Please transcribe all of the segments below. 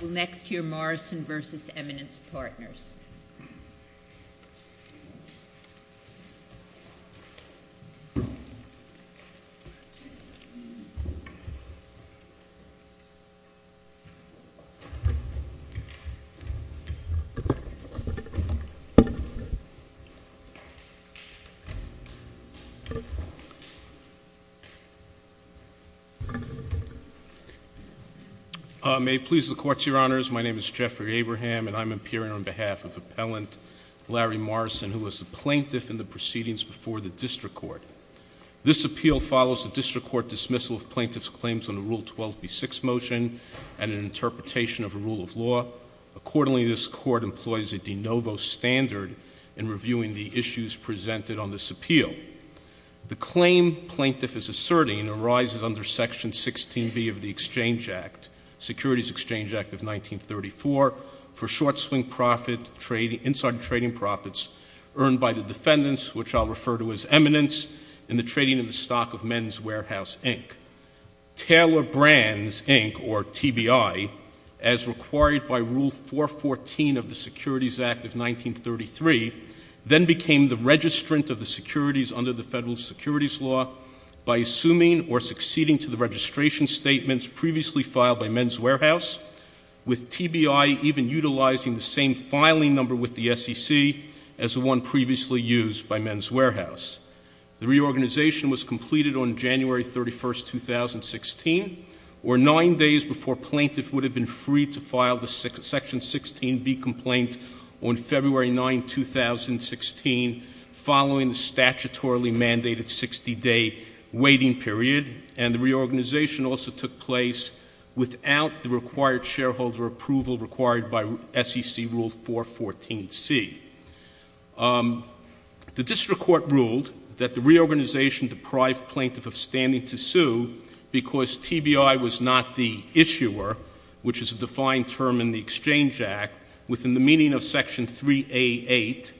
We'll next hear Morrison v. Eminence Partners. May it please the Court, Your Honors, my name is Jeffrey Abraham and I'm appearing on behalf of Appellant Larry Morrison, who was the plaintiff in the proceedings before the District Court. This appeal follows the District Court dismissal of plaintiff's claims on a Rule 12b6 motion and an interpretation of a rule of law. Accordingly, this Court employs a de novo standard in reviewing the issues presented on this appeal. The claim plaintiff is asserting arises under Section 16b of the Exchange Act, Securities Act of 1933, under the Federal Securities Law, by assuming or succeeding to the registration statements previously filed by Men's Warehouse, with TBI even utilizing the same filing number with the SEC as the one previously used by Men's Warehouse. The reorganization was completed on January 31, 2016, or nine days before plaintiff would have been free to file the Section 16b complaint on February 9, 2016, following the statutorily mandated 60-day waiting period, and the reorganization also took place without the required shareholder approval required by SEC Rule 414C. The District Court ruled that the reorganization deprived plaintiff of standing to sue because TBI was not the issuer, which is a defined term in the Exchange Act within the meaning of Section 3A.8,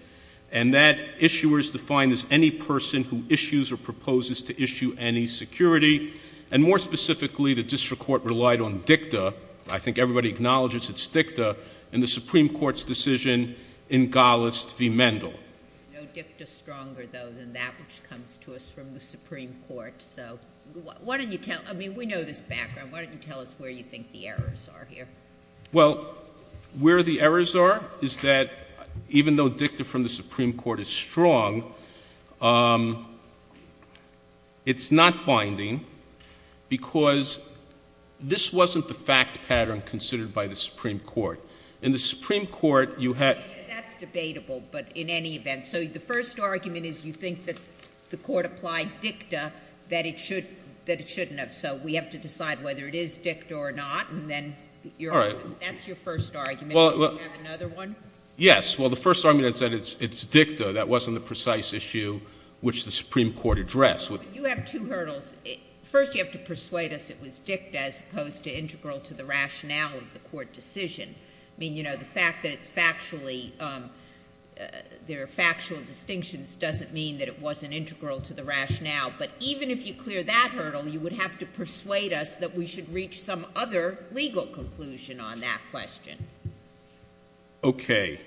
and that issuer is defined as any person who issues or proposes to issue any security. And more specifically, the District Court relied on dicta, I think everybody acknowledges its dicta, in the Supreme Court's decision in Gallust v. Mendel. No dicta stronger, though, than that which comes to us from the Supreme Court. So, why don't you tell, I mean, we know this background, why don't you tell us where you think the errors are here? Well, where the errors are is that even though dicta from the Supreme Court is strong, it's not binding because this wasn't the fact pattern considered by the Supreme Court. In the Supreme Court, you had— That's debatable, but in any event, so the first argument is you think that the Court applied dicta that it should, that it shouldn't have, so we have to decide whether it is dicta or not, and then that's your first argument, and then you have another one? Yes, well, the first argument is that it's dicta, that wasn't the precise issue which the Supreme Court addressed. You have two hurdles. First, you have to persuade us it was dicta as opposed to integral to the rationale of the Court decision. I mean, you know, the fact that it's factually, there are factual distinctions doesn't mean that it wasn't integral to the rationale, but even if you clear that hurdle, you would have to persuade us that we should reach some other legal conclusion on that question. Okay.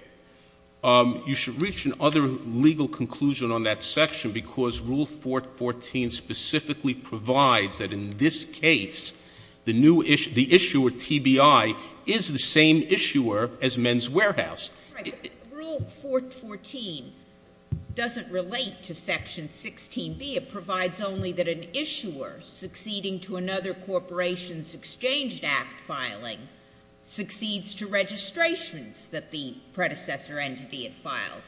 You should reach an other legal conclusion on that section because Rule 414 specifically provides that in this case, the new issue, the issuer, TBI, is the same issuer as Men's Warehouse. All right, but Rule 414 doesn't relate to Section 16B. It provides only that an issuer succeeding to another corporation's Exchange Act filing succeeds to registrations that the predecessor entity had filed.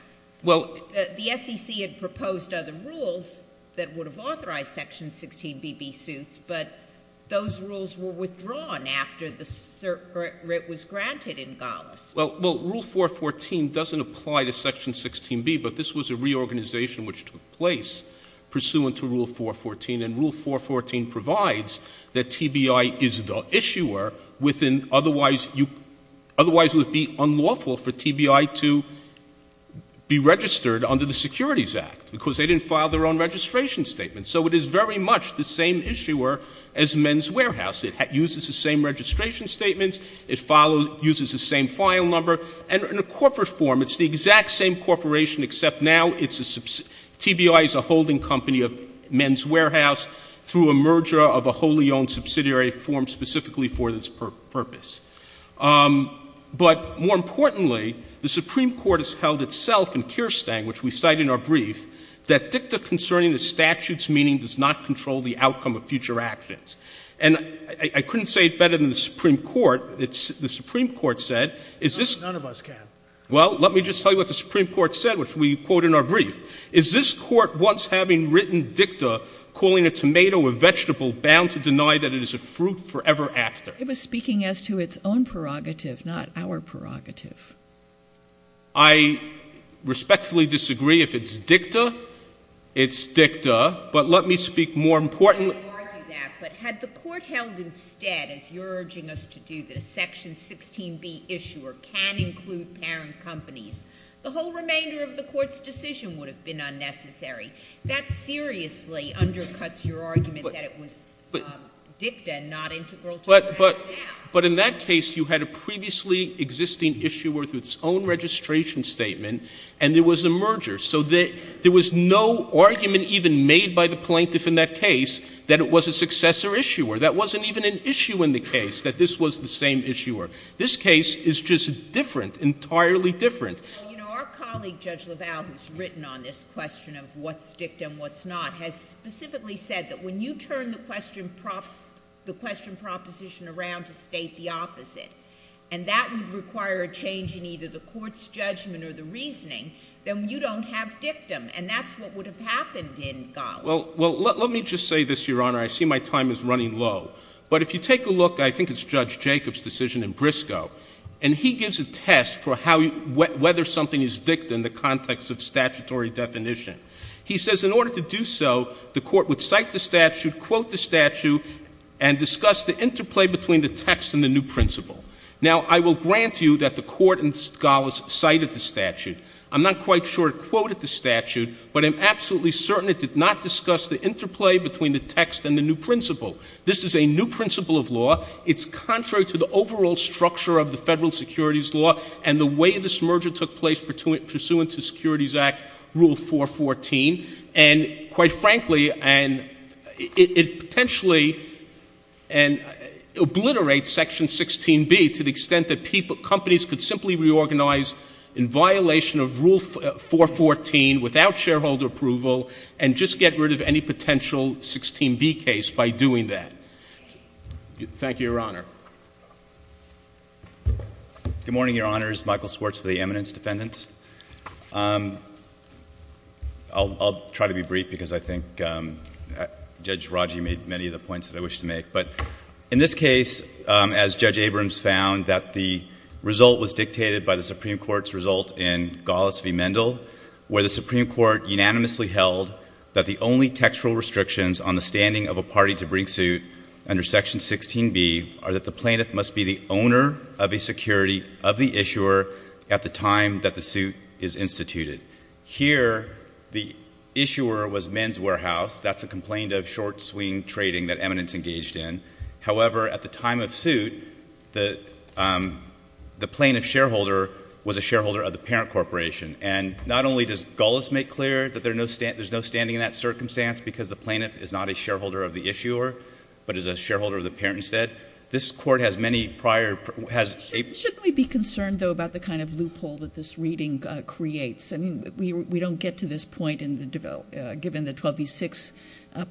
Well — The SEC had proposed other rules that would have authorized Section 16BB suits, but those rules were withdrawn after the — or it was granted in Gallus. Well, Rule 414 doesn't apply to Section 16B, but this was a reorganization which took place pursuant to Rule 414, and Rule 414 provides that TBI is the issuer within otherwise — otherwise it would be unlawful for TBI to be registered under the Securities Act because they didn't file their own registration statement. So it is very much the same issuer as Men's Warehouse. It uses the same registration statements. It follows — uses the same file number, and in a corporate form, it's the exact same corporation except now it's a — TBI is a holding company of Men's Warehouse through a merger of a wholly owned subsidiary form specifically for this purpose. But more importantly, the Supreme Court has held itself in Kirstein, which we cite in our brief, that dicta concerning the statute's meaning does not control the outcome of future actions. And I couldn't say it better than the Supreme Court. The Supreme Court said, is this — None of us can. Well, let me just tell you what the Supreme Court said, which we quote in our brief. Is this Court, once having written dicta, calling a tomato a vegetable, bound to deny that it is a fruit forever after? It was speaking as to its own prerogative, not our prerogative. I respectfully disagree. If it's dicta, it's dicta. But let me speak more importantly — I would argue that. But had the Court held instead, as you're urging us to do, that a Section 16b issuer can include parent companies, the whole remainder of the Court's decision would have been unnecessary. That seriously undercuts your argument that it was dicta, not integral to — But in that case, you had a previously existing issuer with its own registration statement and there was a merger. So there was no argument even made by the plaintiff in that case that it was a successor issuer. That wasn't even an issue in the case, that this was the same issuer. This case is just different, entirely different. Our colleague, Judge LaValle, who's written on this question of what's dicta and what's not, has specifically said that when you turn the question — the question proposition around to state the opposite, and that would require a change in either the Court's have dictum. And that's what would have happened in Gallas. Well, let me just say this, Your Honor. I see my time is running low. But if you take a look — I think it's Judge Jacob's decision in Briscoe, and he gives a test for how — whether something is dicta in the context of statutory definition. He says in order to do so, the Court would cite the statute, quote the statute, and discuss the interplay between the text and the new principle. Now I will grant you that the Court in Gallas cited the statute. I'm not quite sure it quoted the statute, but I'm absolutely certain it did not discuss the interplay between the text and the new principle. This is a new principle of law. It's contrary to the overall structure of the federal securities law and the way this merger took place pursuant to Securities Act Rule 414. And quite frankly, it potentially obliterates Section 16B to the extent that people — companies could simply reorganize in violation of Rule 414 without shareholder approval and just get rid of any potential 16B case by doing that. Thank you, Your Honor. Good morning, Your Honors. Michael Schwartz for the eminence defendants. I'll try to be brief because I think Judge Raggi made many of the points that I wish to make. But in this case, as Judge Abrams found, that the result was dictated by the Supreme Court's result in Gallas v. Mendel, where the Supreme Court unanimously held that the only textual restrictions on the standing of a party to bring suit under Section 16B are that the plaintiff must be the owner of a security of the issuer at the time that the suit is instituted. Here, the issuer was men's warehouse. That's a complaint of short-swing trading that eminence engaged in. However, at the time of suit, the plaintiff shareholder was a shareholder of the parent corporation. And not only does Gallas make clear that there's no standing in that circumstance because the plaintiff is not a shareholder of the issuer, but is a shareholder of the parent instead. This Court has many prior — Shouldn't we be concerned, though, about the kind of loophole that this reading creates? I mean, we don't get to this point in the — given the 12v6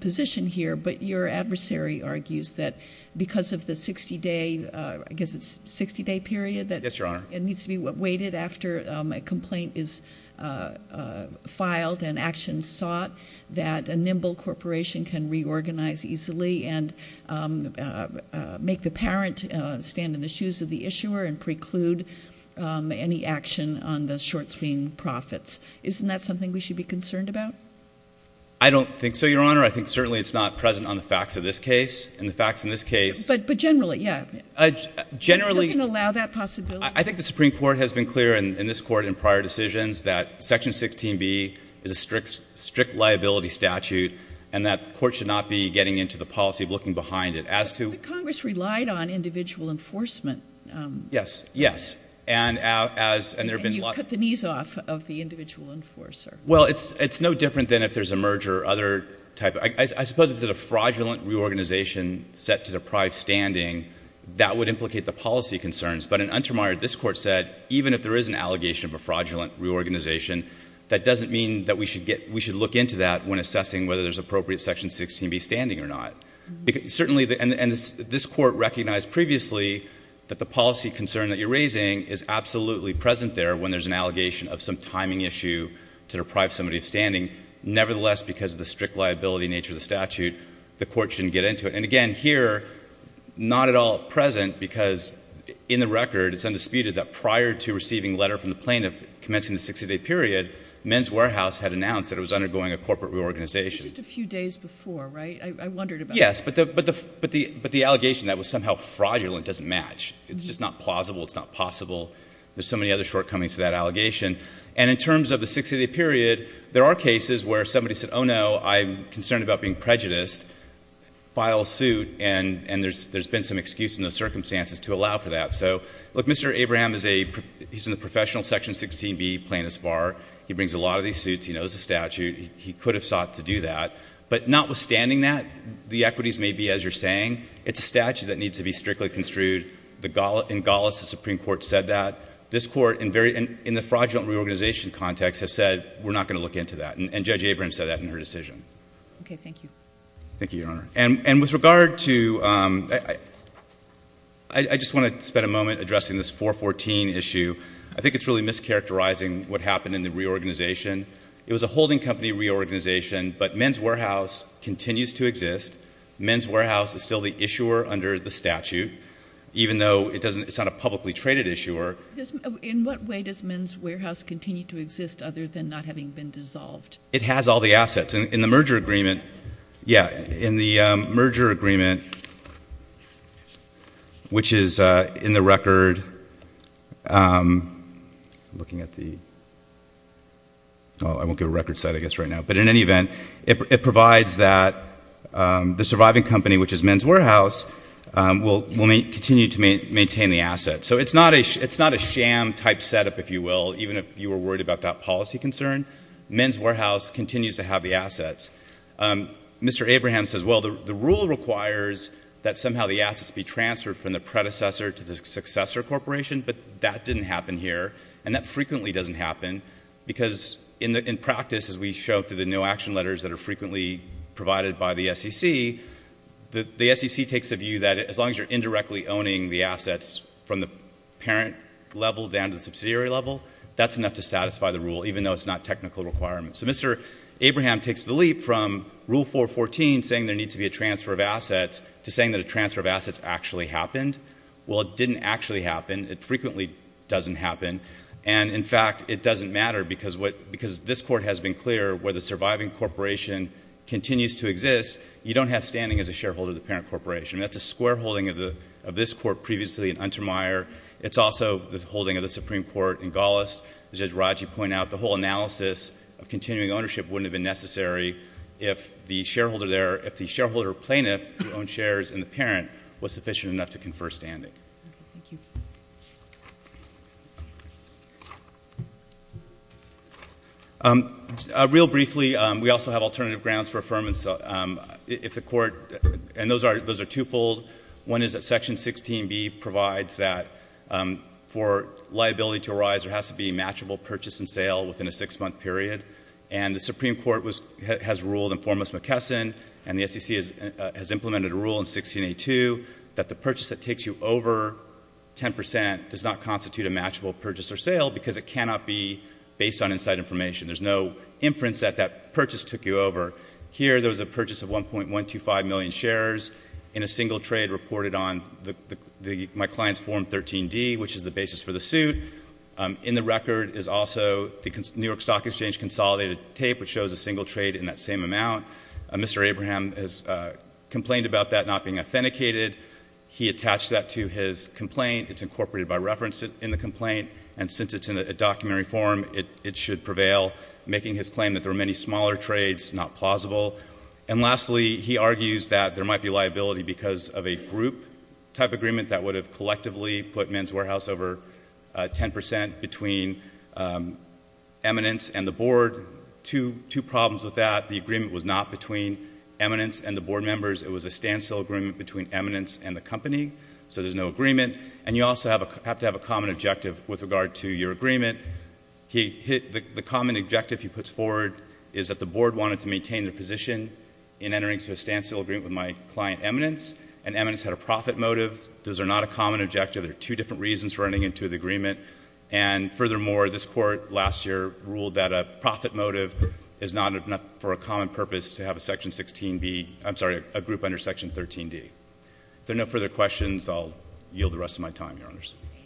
position here. But your adversary argues that because of the 60-day — I guess it's 60-day period that — Yes, Your Honor. — it needs to be waited after a complaint is filed and action sought, that a nimble corporation can reorganize easily and make the parent stand in the shoes of the issuer and preclude any action on the short-swing profits. Isn't that something we should be concerned about? I don't think so, Your Honor. I think certainly it's not present on the facts of this case. And the facts in this case — But generally, yeah. Generally — It doesn't allow that possibility. I think the Supreme Court has been clear in this Court in prior decisions that Section 16b is a strict liability statute and that the Court should not be getting into the policy of looking behind it. As to — Yes. Yes. And as — And you've cut the knees off of the individual enforcer. Well, it's no different than if there's a merger or other type — I suppose if there's a fraudulent reorganization set to deprive standing, that would implicate the policy concerns. But in Untermeyer, this Court said even if there is an allegation of a fraudulent reorganization, that doesn't mean that we should get — we should look into that when assessing whether there's appropriate Section 16b standing or not. Certainly — and this Court recognized previously that the policy concern that you're raising is absolutely present there when there's an allegation of some timing issue to deprive somebody of standing. Nevertheless, because of the strict liability nature of the statute, the Court shouldn't get into it. And again, here, not at all present because in the record, it's undisputed that prior to receiving a letter from the plaintiff commencing the 60-day period, Men's Warehouse had announced that it was undergoing a corporate reorganization. It was just a few days before, right? I wondered about that. Yes. But the — but the — but the allegation that it was somehow fraudulent doesn't match. It's just not plausible. It's not possible. There's so many other shortcomings to that allegation. And in terms of the 60-day period, there are cases where somebody said, oh, no, I'm concerned about being prejudiced, files suit, and there's been some excuse in those circumstances to allow for that. So, look, Mr. Abraham is a — he's in the professional Section 16b plaintiff's bar. He brings a lot of these suits. He knows the statute. He could have sought to do that. But notwithstanding that, the equities may be, as you're saying, it's a statute that needs to be strictly construed. The — in Golis, the Supreme Court said that. This Court, in very — in the fraudulent reorganization context, has said, we're not going to look into that. And Judge Abraham said that in her decision. Okay. Thank you. Thank you, Your Honor. And with regard to — I just want to spend a moment addressing this 414 issue. I think it's really mischaracterizing what happened in the reorganization. It was a holding company reorganization, but men's warehouse continues to exist. Men's warehouse is still the issuer under the statute, even though it doesn't — it's not a publicly traded issuer. In what way does men's warehouse continue to exist, other than not having been dissolved? It has all the assets. And in the merger agreement — yeah, in the merger agreement, which is in the record — I'm Oh, I won't give a record set, I guess, right now. But in any event, it provides that the surviving company, which is men's warehouse, will continue to maintain the assets. So it's not a — it's not a sham-type setup, if you will, even if you were worried about that policy concern. Men's warehouse continues to have the assets. Mr. Abraham says, well, the rule requires that somehow the assets be transferred from the predecessor to the successor corporation, but that didn't happen here, and that frequently doesn't happen, because in practice, as we show through the no-action letters that are frequently provided by the SEC, the SEC takes a view that as long as you're indirectly owning the assets from the parent level down to the subsidiary level, that's enough to satisfy the rule, even though it's not a technical requirement. So Mr. Abraham takes the leap from Rule 414, saying there needs to be a transfer of assets, to saying that a transfer of assets actually happened. Well, it didn't actually happen. It frequently doesn't happen. And in fact, it doesn't matter, because what — because this Court has been clear, where the surviving corporation continues to exist, you don't have standing as a shareholder of the parent corporation. That's a square holding of the — of this Court previously in Untermyer. It's also the holding of the Supreme Court in Golas. As Judge Raji pointed out, the whole analysis of continuing ownership wouldn't have been necessary if the shareholder there — if the shareholder plaintiff who owned shares in the parent was sufficient enough to confer standing. Thank you. Real briefly, we also have alternative grounds for affirmance. If the Court — and those are twofold. One is that Section 16B provides that for liability to arise, there has to be a matchable purchase and sale within a six-month period. And the Supreme Court has ruled in Formos-McKesson, and the SEC has implemented a rule in 1682 that the purchase that takes you over 10 percent does not constitute a matchable purchase or sale because it cannot be based on inside information. There's no inference that that purchase took you over. Here, there was a purchase of 1.125 million shares in a single trade reported on the — my client's Form 13D, which is the basis for the suit. In the record is also the New York Stock Exchange consolidated tape, which shows a single trade in that same amount. Mr. Abraham has complained about that not being authenticated. He attached that to his complaint. It's incorporated by reference in the complaint. And since it's in a documentary form, it should prevail, making his claim that there were many smaller trades not plausible. And lastly, he argues that there might be liability because of a group-type agreement that would have collectively put Men's Warehouse over 10 percent between eminence and the board. Two problems with that. The agreement was not between eminence and the board members. It was a standstill agreement between eminence and the company. So there's no agreement. And you also have to have a common objective with regard to your agreement. He hit — the common objective he puts forward is that the board wanted to maintain their position in entering into a standstill agreement with my client eminence, and eminence had a profit motive. Those are not a common objective. There are two different reasons for running into the agreement. And furthermore, this Court last year ruled that a profit motive is not enough for a common purpose to have a Section 16B — I'm sorry, a group under Section 13D. If there are no further questions, I'll yield the rest of my time, Your Honors. MS.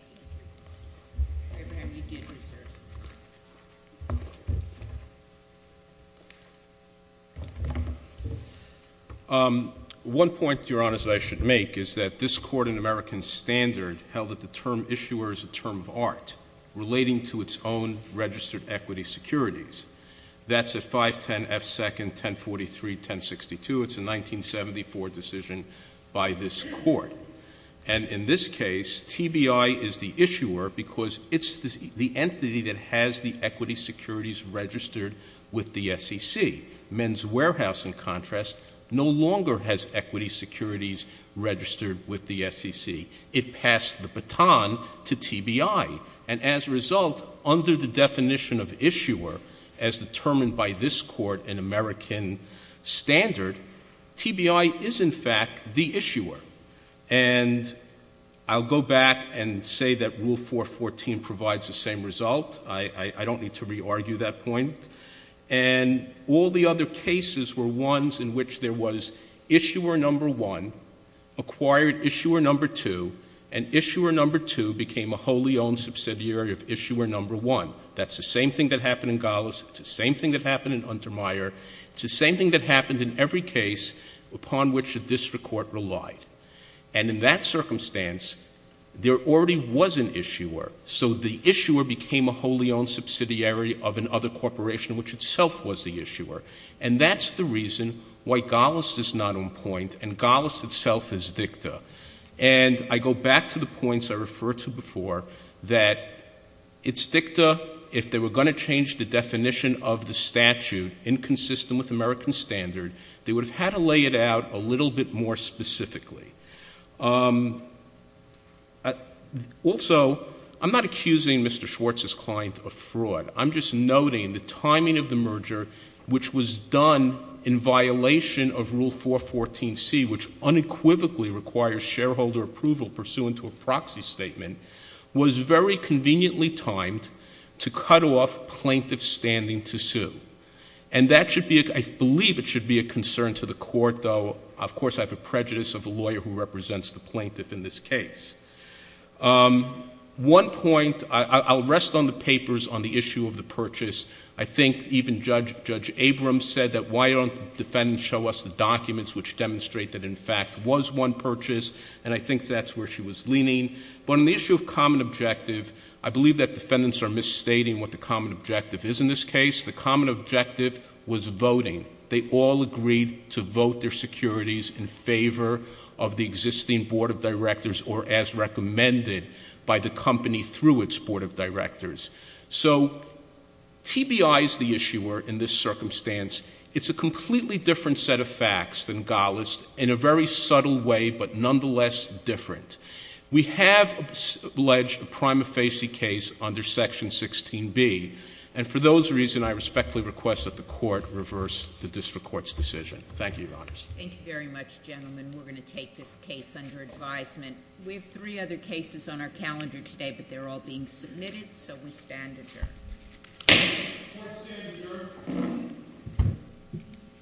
GOTTLIEB Thank you. Mr. Abraham, you did reserve some time. MR. ABRAHAM One point, Your Honors, that I should make is that this Court in American Standard held that the term issuer is a term of art relating to its own registered equity securities. That's at 510F2nd 1043-1062. It's a 1974 decision by this Court. And in this case, TBI is the issuer because it's the entity that has the equity securities registered with the SEC. Men's Warehouse, in contrast, no longer has equity securities registered with the SEC. It passed the baton to TBI. And as a result, under the definition of issuer, as determined by this Court in American Standard, TBI is, in fact, the issuer. And I'll go back and say that Rule 414 provides the same result. I don't need to re-argue that point. And all the other cases were ones in which there was issuer number one, acquired issuer number two, and issuer number two became a wholly owned subsidiary of issuer number one. That's the same thing that happened in Golis. It's the same thing that happened in Untermyer. It's the same thing that happened in every case upon which a district court relied. And in that circumstance, there already was an issuer. So the issuer became a wholly owned subsidiary of another corporation which itself was the issuer. And that's the reason why Golis is not on point and Golis itself is dicta. And I go back to the points I referred to before, that it's dicta if they were going to change the definition of the statute inconsistent with American Standard, they would have had to lay it out a little bit more specifically. Also, I'm not accusing Mr. Schwartz's client of fraud. I'm just noting the timing of the merger, which was done in violation of Rule 414C, which unequivocally requires shareholder approval pursuant to a proxy statement, was very conveniently timed to cut off plaintiff standing to sue. And that should be, I believe it should be a concern to the court though. Of course, I have a prejudice of a lawyer who represents the plaintiff in this case. One point, I'll rest on the papers on the issue of the purchase. I think even Judge Abrams said that why don't the defendants show us the documents which demonstrate that, in fact, was one purchase, and I think that's where she was leaning. But on the issue of common objective, I believe that defendants are misstating what the common objective is in this case. The common objective was voting. They all agreed to vote their securities in favor of the existing board of directors or as recommended by the company through its board of directors. So, TBI is the issuer in this circumstance. It's a completely different set of facts than Gallist in a very subtle way, but nonetheless different. We have alleged a prima facie case under Section 16B, and for those reasons, I respectfully request that the court reverse the district court's decision. Thank you, Your Honors. Thank you very much, gentlemen. We're going to take this case under advisement. We have three other cases on our calendar today, but they're all being submitted, so we stand adjourned. Court is standing adjourned.